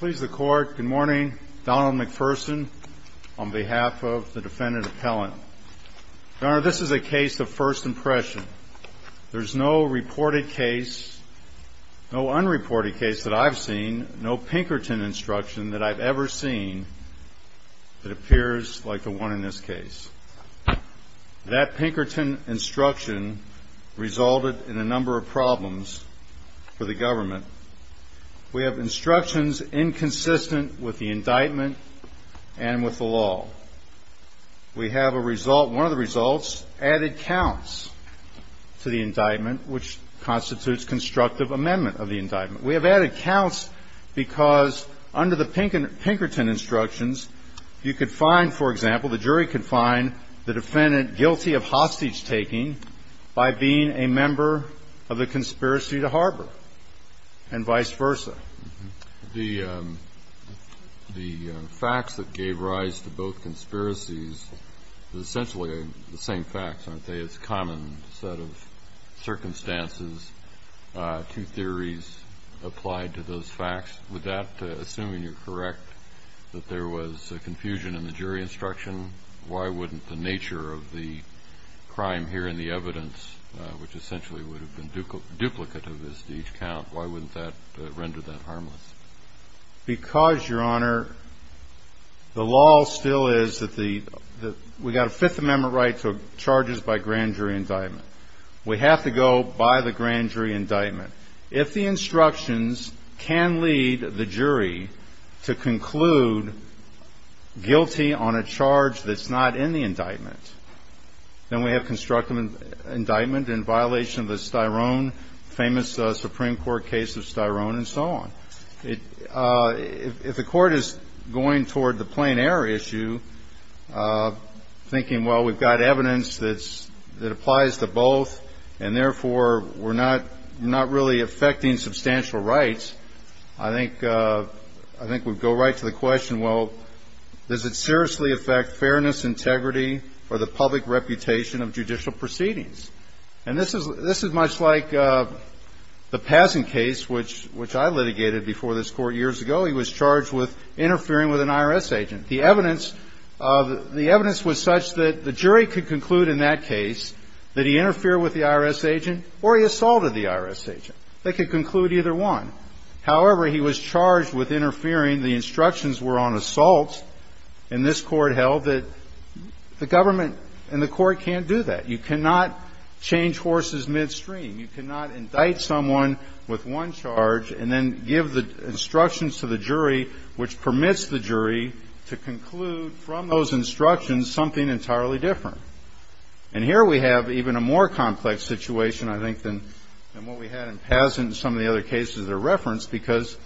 Good morning, Donald McPherson, on behalf of the defendant appellant. Your Honor, this is a case of first impression. There's no reported case, no unreported case that I've seen, no Pinkerton instruction that I've ever seen that appears like the one in this case. That Pinkerton instruction resulted in a number of problems for the government. We have instructions inconsistent with the indictment and with the law. We have a result, one of the results, added counts to the indictment, which constitutes constructive amendment of the indictment. We have added counts because under the Pinkerton instructions, you could find, for example, the jury could find the defendant guilty of hostage-taking by being a member of the conspiracy to harbor and vice versa. The facts that gave rise to both conspiracies are essentially the same facts, aren't they? It's a common set of circumstances, two theories applied to those facts. With that, assuming you're correct, that there was confusion in the jury instruction, why wouldn't the nature of the crime here in the evidence, which essentially would have been duplicate of this to each count, why wouldn't that render that harmless? Because, Your Honor, the law still is that we've got a Fifth Amendment right to charges by grand jury indictment. We have to go by the grand jury indictment. If the instructions can lead the jury to conclude guilty on a charge that's not in the indictment, then we have constructive indictment in violation of the famous Supreme Court case of Styrone and so on. If the court is going toward the plain error issue, thinking, well, we've got evidence that applies to both, and therefore we're not really affecting substantial rights, I think we'd go right to the question, well, does it seriously affect fairness, integrity, or the public reputation of judicial proceedings? And this is much like the Pazin case, which I litigated before this Court years ago. He was charged with interfering with an IRS agent. The evidence was such that the jury could conclude in that case that he interfered with the IRS agent or he assaulted the IRS agent. They could conclude either one. However, he was charged with interfering. The instructions were on assault, and this Court held that the government and the Court can't do that. You cannot change horses midstream. You cannot indict someone with one charge and then give the instructions to the jury, which permits the jury to conclude from those instructions something entirely different. And here we have even a more complex situation, I think, than what we had in Pazin and some of the other cases that are referenced, because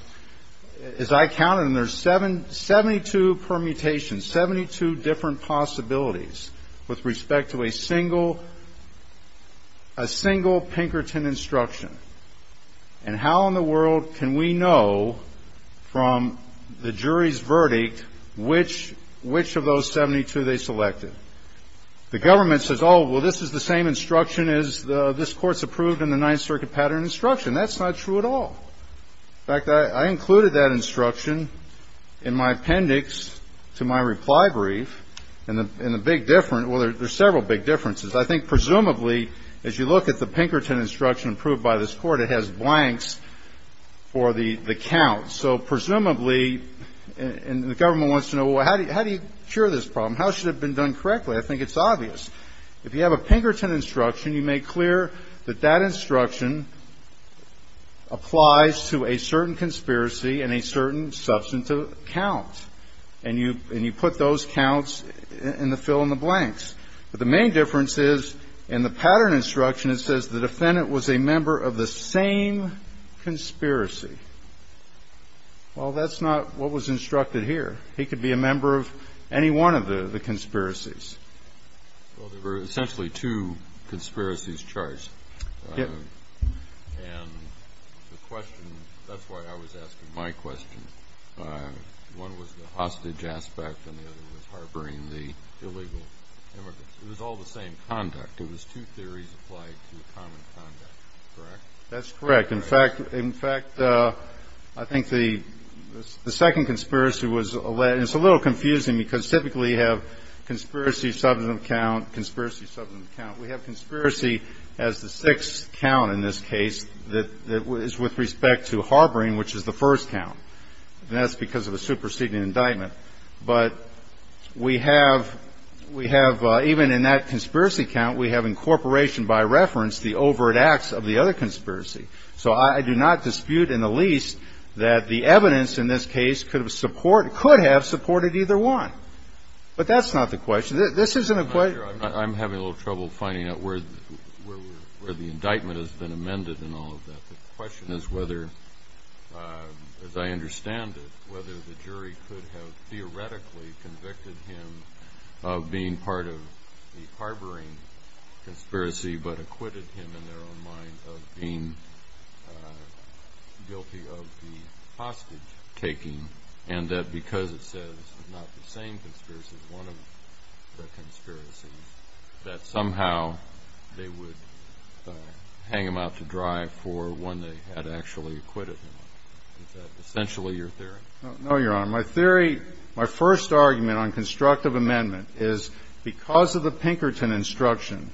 as I counted, and there's 72 permutations, 72 different possibilities with respect to a single, a single Pinkerton instruction. And how in the world can we know from the jury's verdict which of those 72 they selected? The government says, oh, well, this is the same instruction as this Court's approved in the Ninth Circuit pattern instruction. That's not true at all. In fact, I included that instruction in my appendix to my reply brief. And the big difference, well, there's several big differences. I think presumably, as you look at the Pinkerton instruction approved by this Court, it has blanks for the counts. So presumably, and the government wants to know, well, how do you cure this problem? How should it have been done correctly? I think it's obvious. If you have a Pinkerton instruction, you make clear that that instruction applies to a certain conspiracy and a certain substantive count. And you put those counts in the fill in the blanks. But the main difference is, in the pattern instruction, it says the defendant was a member of the same conspiracy. Well, that's not what was instructed here. He could be a member of any one of the conspiracies. Well, there were essentially two conspiracies charged. And the question, that's why I was asking my question. One was the hostage aspect and the other was harboring the illegal immigrants. It was all the same conduct. It was two theories applied to common conduct. Correct? That's correct. In fact, I think the second conspiracy was alleged. And it's a little confusing because typically you have conspiracy, substantive count, conspiracy, substantive count. We have conspiracy as the sixth count in this case that is with respect to harboring, which is the first count. And that's because of a superseding indictment. But we have, we have, even in that conspiracy count, we have incorporation by reference the overt acts of the other conspiracy. So I do not dispute in the least that the evidence in this case could have supported either one. But that's not the question. This isn't a question. I'm having a little trouble finding out where the indictment has been amended in all of that. The question is whether, as I understand it, whether the jury could have theoretically convicted him of being part of the harboring conspiracy but acquitted him in their own mind of being guilty of the hostage taking. And that because it says it's not the same conspiracy as one of the conspiracies, that somehow they would hang him out to dry for one they had actually acquitted him of. Is that essentially your theory? No, Your Honor. My theory, my first argument on constructive amendment is because of the Pinkerton instruction,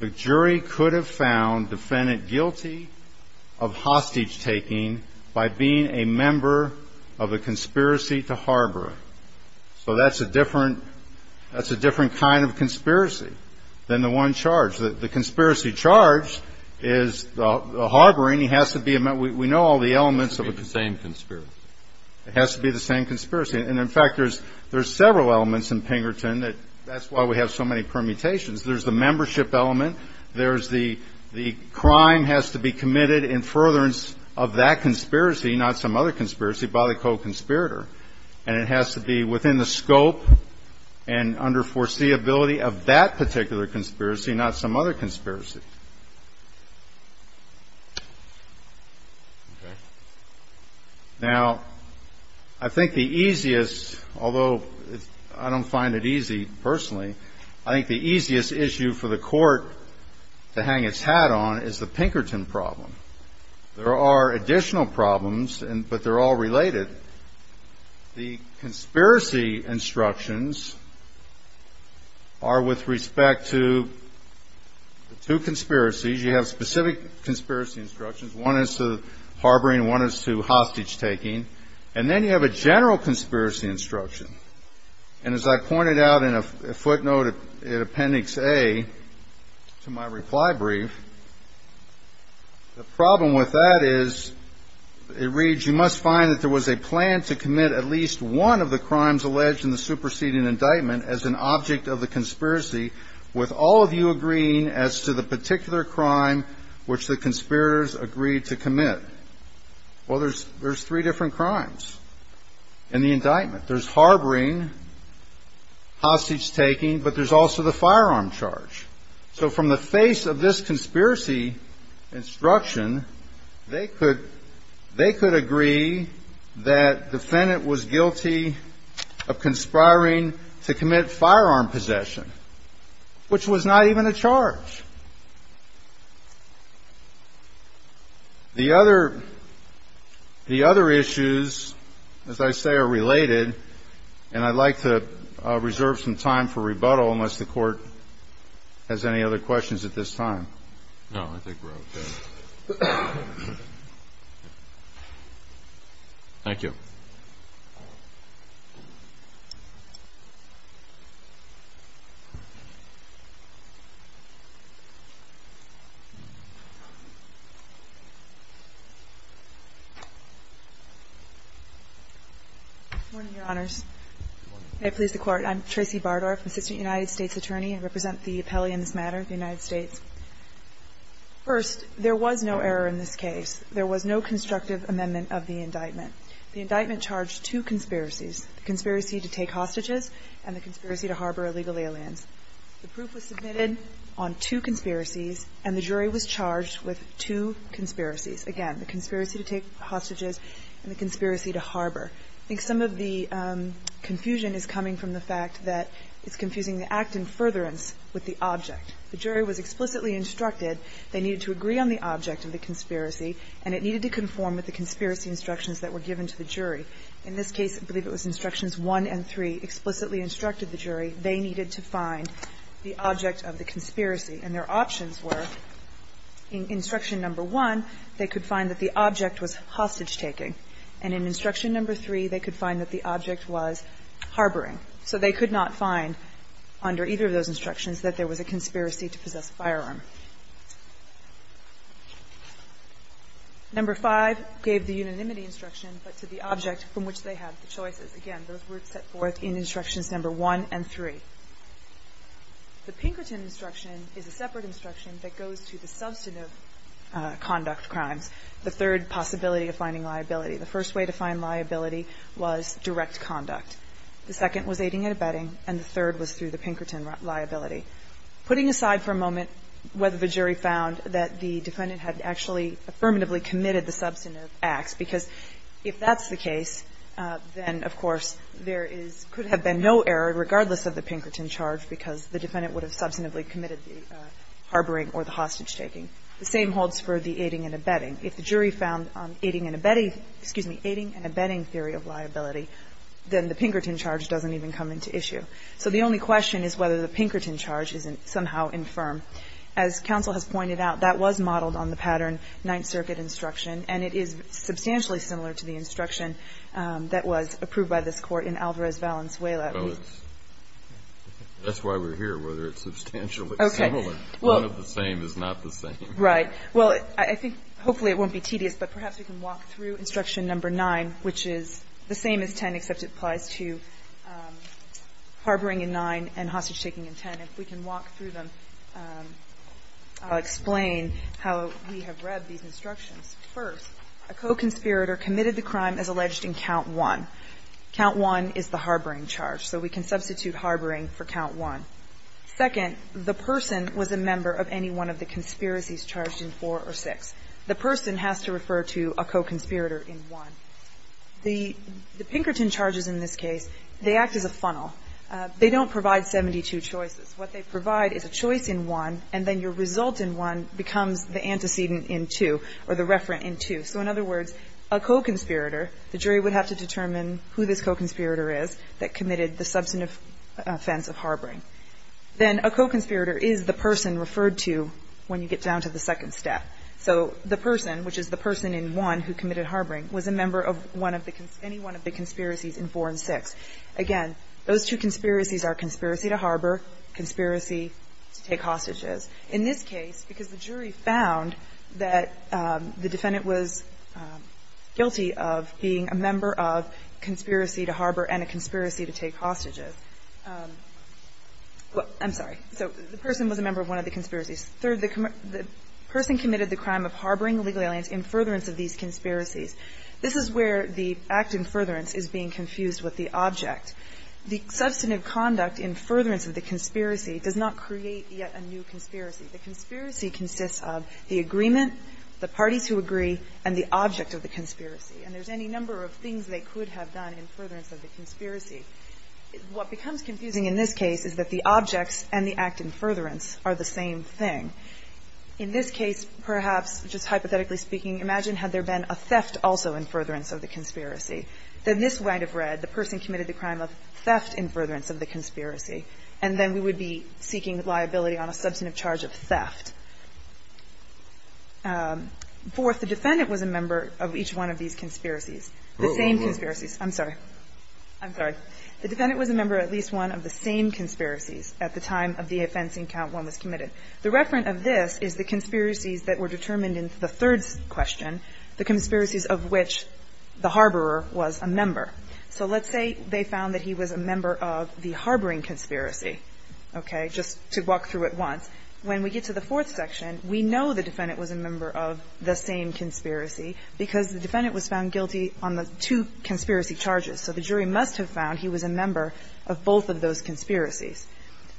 the jury could have found defendant guilty of hostage taking by being a member of a conspiracy to harbor. So that's a different kind of conspiracy than the one charge. The conspiracy charge is the harboring has to be a member. We know all the elements of it. It has to be the same conspiracy. It has to be the same conspiracy. And, in fact, there's several elements in Pinkerton that that's why we have so many permutations. There's the membership element. There's the crime has to be committed in furtherance of that conspiracy, not some other conspiracy, by the co-conspirator. And it has to be within the scope and under foreseeability of that particular conspiracy, not some other conspiracy. Now, I think the easiest, although I don't find it easy personally, I think the easiest issue for the court to hang its hat on is the Pinkerton problem. There are additional problems, but they're all related. The conspiracy instructions are with respect to two conspiracies. You have specific conspiracy instructions. One is to harboring. One is to hostage taking. And then you have a general conspiracy instruction. And as I pointed out in a footnote in Appendix A to my reply brief, the problem with that is it reads, you must find that there was a plan to commit at least one of the crimes alleged in the superseding indictment as an object of the conspiracy with all of you agreeing as to the particular crime which the conspirators agreed to commit. Well, there's three different crimes in the indictment. There's harboring, hostage taking, but there's also the firearm charge. So from the face of this conspiracy instruction, they could agree that defendant was guilty of conspiring to commit firearm possession, which was not even a charge. The other issues, as I say, are related, and I'd like to reserve some time for rebuttal unless the Court has any other questions at this time. No, I think we're okay. Thank you. Bardorf. Good morning, Your Honors. Good morning. May it please the Court, I'm Tracy Bardorf, Assistant United States Attorney. I represent the appellee in this matter, the United States. First, there was no error in this case. There was no constructive amendment of the indictment. The indictment charged two conspiracies, the conspiracy to take hostages and the conspiracy to harbor illegal aliens. The proof was submitted on two conspiracies, and the jury was charged with two conspiracies. Again, the conspiracy to take hostages and the conspiracy to harbor. I think some of the confusion is coming from the fact that it's confusing the act in furtherance with the object. The jury was explicitly instructed they needed to agree on the object of the conspiracy, and it needed to conform with the conspiracy instructions that were given to the jury. In this case, I believe it was instructions one and three explicitly instructed the jury they needed to find the object of the conspiracy. And their options were in instruction number one, they could find that the object was hostage-taking, and in instruction number three, they could find that the object was harboring. So they could not find under either of those instructions that there was a conspiracy to possess a firearm. Number five gave the unanimity instruction, but to the object from which they had the choices. Again, those were set forth in instructions number one and three. The Pinkerton instruction is a separate instruction that goes to the substantive conduct crimes, the third possibility of finding liability. The first way to find liability was direct conduct. The second was aiding and abetting, and the third was through the Pinkerton liability. Putting aside for a moment whether the jury found that the defendant had actually affirmatively committed the substantive acts, because if that's the case, then, of course, there could have been no error regardless of the Pinkerton charge because the defendant would have substantively committed the harboring or the hostage-taking. The same holds for the aiding and abetting. If the jury found aiding and abetting, excuse me, aiding and abetting theory of liability, then the Pinkerton charge doesn't even come into issue. So the only question is whether the Pinkerton charge is somehow infirm. As counsel has pointed out, that was modeled on the pattern Ninth Circuit instruction, and it is substantially similar to the instruction that was approved by this Court in Alvarez-Valenzuela. Kennedy. That's why we're here, whether it's substantially similar. Okay. One of the same is not the same. Right. Well, I think hopefully it won't be tedious, but perhaps we can walk through instruction number 9, which is the same as 10, except it applies to harboring in 9 and hostage-taking in 10. If we can walk through them, I'll explain how we have read these instructions. First, a co-conspirator committed the crime as alleged in count 1. Count 1 is the harboring charge. So we can substitute harboring for count 1. Second, the person was a member of any one of the conspiracies charged in 4 or 6. The person has to refer to a co-conspirator in 1. The Pinkerton charges in this case, they act as a funnel. They don't provide 72 choices. What they provide is a choice in 1, and then your result in 1 becomes the antecedent in 2 or the referent in 2. So in other words, a co-conspirator, the jury would have to determine who this co-conspirator is that committed the substantive offense of harboring. Then a co-conspirator is the person referred to when you get down to the second step. So the person, which is the person in 1 who committed harboring, was a member of one of the any one of the conspiracies in 4 and 6. Again, those two conspiracies are conspiracy to harbor, conspiracy to take hostages. In this case, because the jury found that the defendant was guilty of being a member of conspiracy to harbor and a conspiracy to take hostages. I'm sorry. So the person was a member of one of the conspiracies. Third, the person committed the crime of harboring illegal aliens in furtherance of these conspiracies. This is where the act in furtherance is being confused with the object. The substantive conduct in furtherance of the conspiracy does not create yet a new conspiracy. The conspiracy consists of the agreement, the parties who agree, and the object of the conspiracy. And there's any number of things they could have done in furtherance of the conspiracy. What becomes confusing in this case is that the objects and the act in furtherance are the same thing. In this case, perhaps, just hypothetically speaking, imagine had there been a theft also in furtherance of the conspiracy. Then this might have read the person committed the crime of theft in furtherance of the conspiracy, and then we would be seeking liability on a substantive charge of theft. Fourth, the defendant was a member of each one of these conspiracies. The same conspiracies. I'm sorry. I'm sorry. The defendant was a member of at least one of the same conspiracies at the time of the offensing count one was committed. The reference of this is the conspiracies that were determined in the third question, the conspiracies of which the harborer was a member. So let's say they found that he was a member of the harboring conspiracy, okay, just to walk through it once. When we get to the fourth section, we know the defendant was a member of the same conspiracy because the defendant was found guilty on the two conspiracy charges. So the jury must have found he was a member of both of those conspiracies.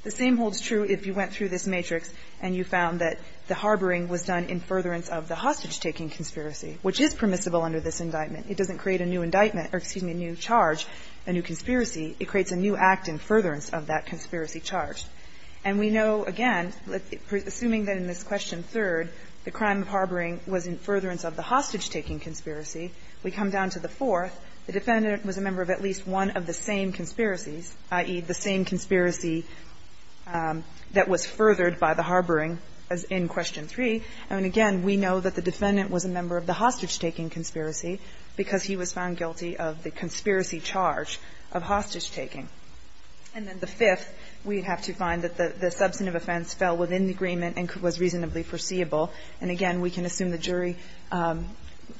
The same holds true if you went through this matrix and you found that the harboring was done in furtherance of the hostage-taking conspiracy, which is permissible under this indictment. It doesn't create a new indictment or, excuse me, a new charge, a new conspiracy. It creates a new act in furtherance of that conspiracy charge. And we know, again, assuming that in this question third, the crime of harboring was in furtherance of the hostage-taking conspiracy, we come down to the fourth. The defendant was a member of at least one of the same conspiracies, i.e., the same conspiracy that was furthered by the harboring in question three. And again, we know that the defendant was a member of the hostage-taking conspiracy because he was found guilty of the conspiracy charge of hostage-taking. And then the fifth, we have to find that the substantive offense fell within the agreement and was reasonably foreseeable. And again, we can assume the jury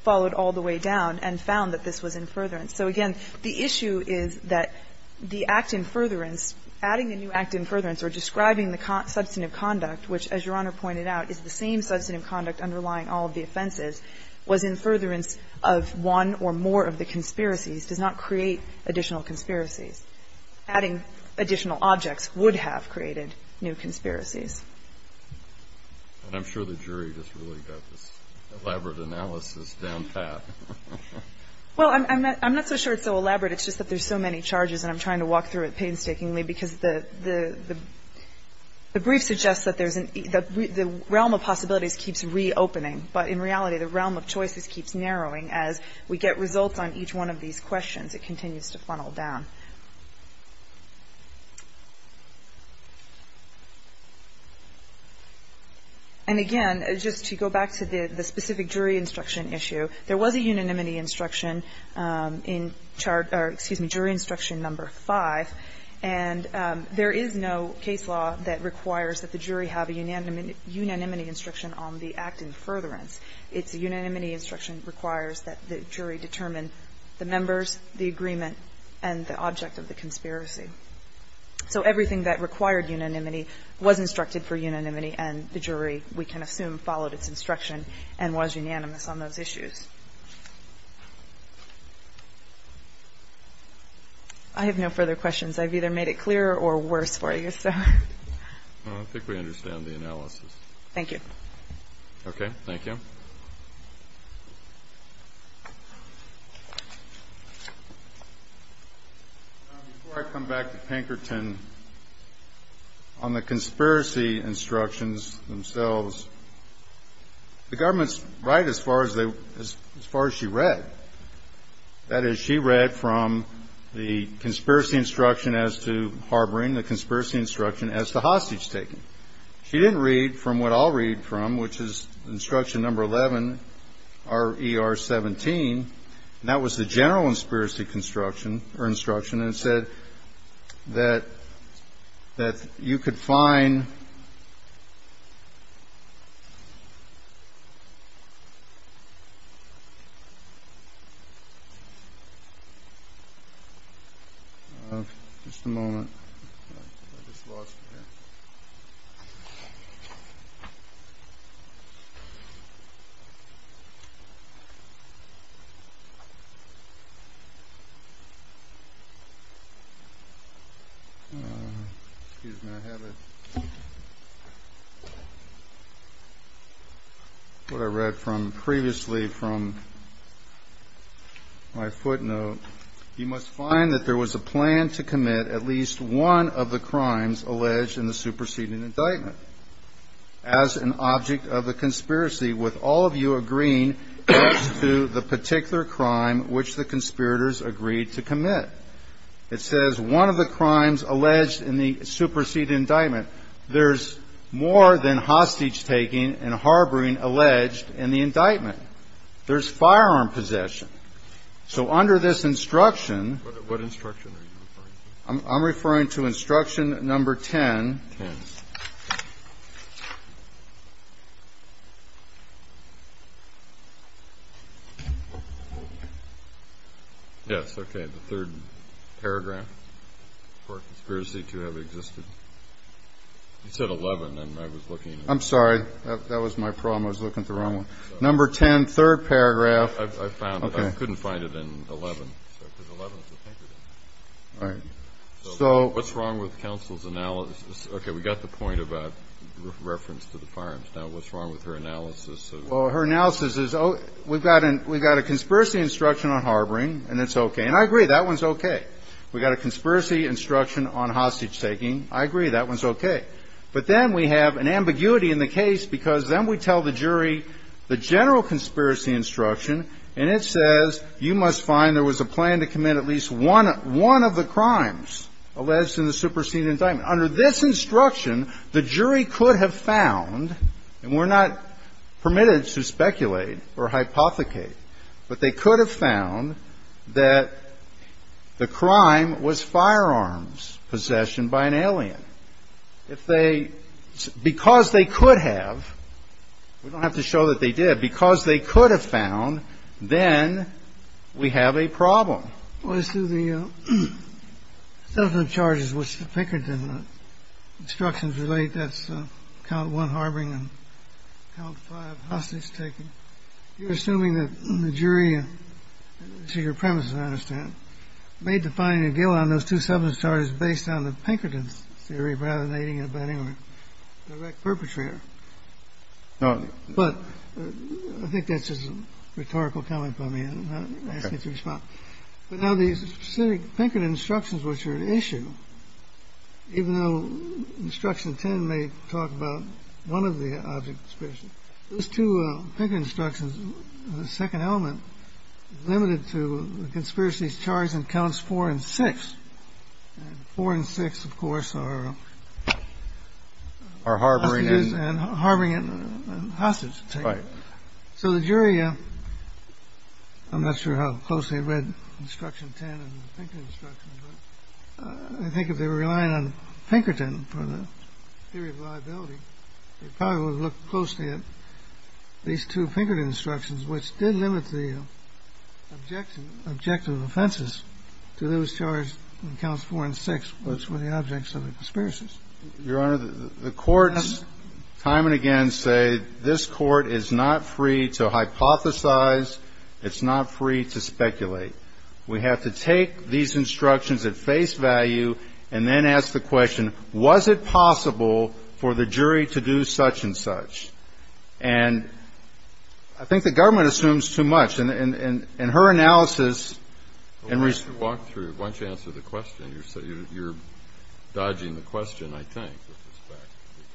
followed all the way down and found that this was in furtherance. So again, the issue is that the act in furtherance, adding a new act in furtherance or describing the substantive conduct, which, as Your Honor pointed out, is the same substantive conduct underlying all of the offenses, was in furtherance of one or more of the conspiracies, does not create additional conspiracies. Adding additional objects would have created new conspiracies. And I'm sure the jury just really got this elaborate analysis down pat. Well, I'm not so sure it's so elaborate. It's just that there's so many charges, and I'm trying to walk through it painstakingly because the brief suggests that there's an the realm of possibilities keeps reopening. But in reality, the realm of choices keeps narrowing. As we get results on each one of these questions, it continues to funnel down. And again, just to go back to the specific jury instruction issue, there was a unanimity instruction in chart or, excuse me, jury instruction number 5. And there is no case law that requires that the jury have a unanimity instruction on the act in furtherance. It's a unanimity instruction that requires that the jury determine the members, the agreement, and the object of the conspiracy. So everything that required unanimity was instructed for unanimity, and the jury, we can assume, followed its instruction and was unanimous on those issues. I have no further questions. I've either made it clearer or worse for you. I think we understand the analysis. Thank you. Okay. Thank you. Before I come back to Pinkerton, on the conspiracy instructions themselves, the government's right as far as she read. That is, she read from the conspiracy instruction as to harboring, the conspiracy instruction as to hostage-taking. She didn't read from what I'll read from, which is instruction number 11, RER 17. And that was the general conspiracy construction, or instruction, and it said that you could find. Just a moment. I just lost it here. Excuse me, I have it. What I read from previously from my footnote, you must find that there was a plan to commit at least one of the crimes alleged in the superseding indictment. As an object of the conspiracy, with all of you agreeing as to the particular crime which the conspirators agreed to commit. It says one of the crimes alleged in the superseding indictment. There's more than hostage-taking and harboring alleged in the indictment. There's firearm possession. So under this instruction. What instruction are you referring to? I'm referring to instruction number 10. Yes, okay. The third paragraph for conspiracy to have existed. You said 11 and I was looking. I'm sorry. That was my problem. I was looking at the wrong one. Number 10, third paragraph. I couldn't find it in 11. All right. So what's wrong with counsel's analysis? Okay, we got the point of reference to the firearms. Now what's wrong with her analysis? Well, her analysis is we've got a conspiracy instruction on harboring and it's okay. And I agree that one's okay. We've got a conspiracy instruction on hostage-taking. I agree that one's okay. But then we have an ambiguity in the case because then we tell the jury the general conspiracy instruction. And it says you must find there was a plan to commit at least one of the crimes alleged in the superseded indictment. Under this instruction, the jury could have found, and we're not permitted to speculate or hypothecate, but they could have found that the crime was firearms possession by an alien. If they, because they could have, we don't have to show that they did. Because they could have found, then we have a problem. Well, it's through the substantive charges which the Pinkerton instructions relate. That's count one, harboring, and count five, hostage-taking. You're assuming that the jury, to your premise, as I understand, made the finding of Gill on those two substantive charges based on the Pinkerton's theory rather than aiding and abetting a direct perpetrator. No. But I think that's just a rhetorical comment by me. Okay. But now the specific Pinkerton instructions which are at issue, even though instruction 10 may talk about one of the object, there's two Pinkerton instructions, the second element, limited to the conspiracies charged in counts four and six. Four and six, of course, are harboring and hostage-taking. Right. So the jury, I'm not sure how closely I read instruction 10 and the Pinkerton instructions, but I think if they were relying on Pinkerton for the theory of liability, they probably would have looked closely at these two Pinkerton instructions, which did limit the objective offenses to those charged in counts four and six, which were the objects of the conspiracies. Your Honor, the courts time and again say this Court is not free to hypothesize, it's not free to speculate. We have to take these instructions at face value and then ask the question, was it possible for the jury to do such and such? And I think the government assumes too much. In her analysis and research. Well, why don't you walk through it? Why don't you answer the question? You're dodging the question, I think, with respect, because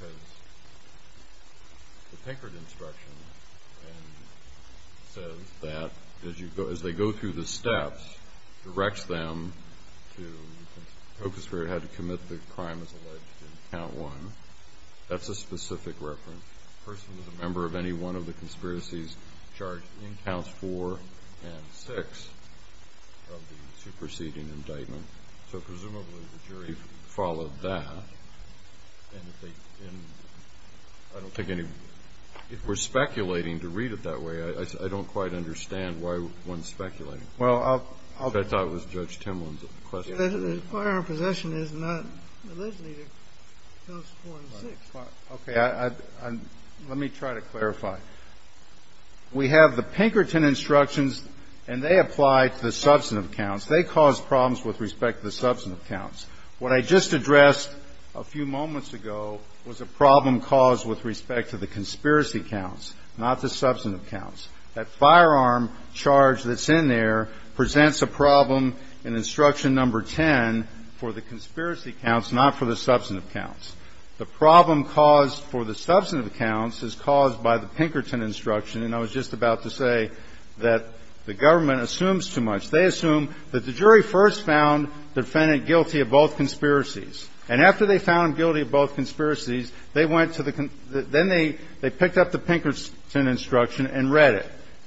the Pinkerton instruction says that as they go through the steps, directs them to focus on how to commit the crime as alleged in count one. That's a specific reference. A person is a member of any one of the conspiracies charged in counts four and six of the superseding indictment. So presumably the jury followed that. And I don't think any, if we're speculating to read it that way, I don't quite understand why one's speculating. I thought it was Judge Timlin's question. The firearm possession is not alleged in counts four and six. Okay. Let me try to clarify. We have the Pinkerton instructions, and they apply to the substantive counts. They cause problems with respect to the substantive counts. What I just addressed a few moments ago was a problem caused with respect to the conspiracy counts, not the substantive counts. That firearm charge that's in there presents a problem in instruction number 10 for the conspiracy counts, not for the substantive counts. The problem caused for the substantive counts is caused by the Pinkerton instruction. And I was just about to say that the government assumes too much. They assume that the jury first found the defendant guilty of both conspiracies. And after they found him guilty of both conspiracies, they went to the con – then they picked up the Pinkerton instruction and read it.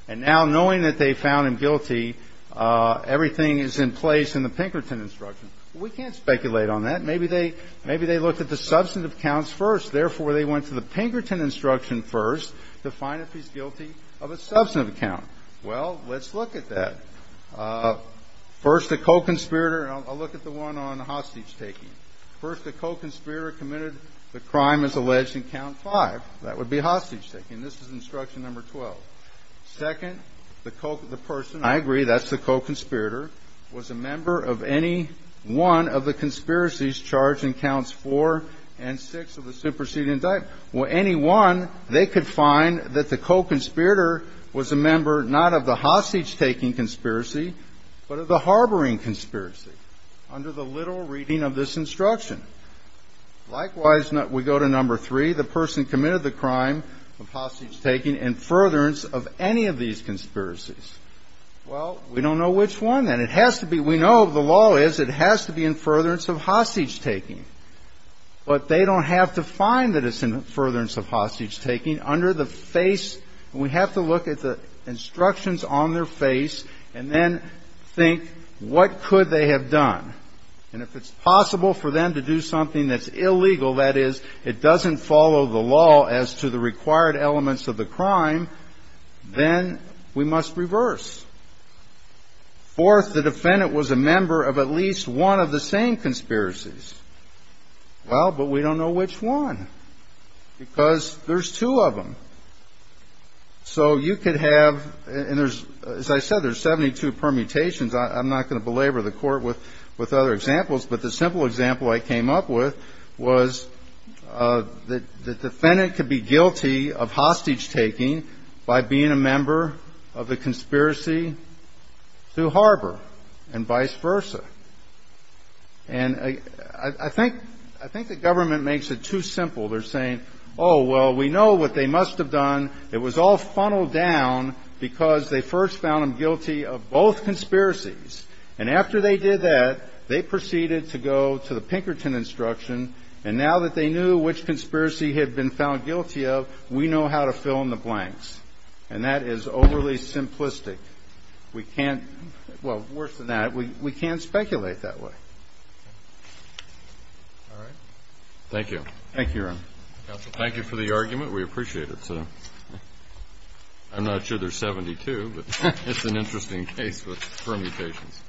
And now, knowing that they found him guilty, everything is in place in the Pinkerton instruction. We can't speculate on that. Maybe they – maybe they looked at the substantive counts first. Therefore, they went to the Pinkerton instruction first to find if he's guilty of a substantive count. Well, let's look at that. First, the co-conspirator – and I'll look at the one on hostage-taking. First, the co-conspirator committed the crime as alleged in count five. That would be hostage-taking. This is instruction number 12. Second, the co – the person – I agree, that's the co-conspirator – was a member of any one of the conspiracies charged in counts four and six of the superseding indictment. Well, any one, they could find that the co-conspirator was a member not of the hostage-taking conspiracy, but of the harboring conspiracy under the literal reading of this instruction. Likewise, we go to number three, the person committed the crime of hostage-taking in furtherance of any of these conspiracies. Well, we don't know which one, and it has to be – we know the law is it has to be in furtherance of hostage-taking. But they don't have to find that it's in furtherance of hostage-taking. Under the face – we have to look at the instructions on their face and then think what could they have done. And if it's possible for them to do something that's illegal, that is, it doesn't follow the law as to the required elements of the crime, then we must reverse. Fourth, the defendant was a member of at least one of the same conspiracies. Well, but we don't know which one, because there's two of them. So you could have – and there's – as I said, there's 72 permutations. I'm not going to belabor the Court with other examples. But the simple example I came up with was the defendant could be guilty of hostage-taking by being a member of the conspiracy through Harbor and vice versa. And I think the government makes it too simple. They're saying, oh, well, we know what they must have done. It was all funneled down because they first found them guilty of both conspiracies. And after they did that, they proceeded to go to the Pinkerton instruction. And now that they knew which conspiracy had been found guilty of, we know how to fill in the blanks. And that is overly simplistic. We can't – well, worse than that, we can't speculate that way. All right. Thank you. Thank you, Your Honor. Counsel, thank you for the argument. We appreciate it. I'm not sure there's 72, but it's an interesting case with permutations.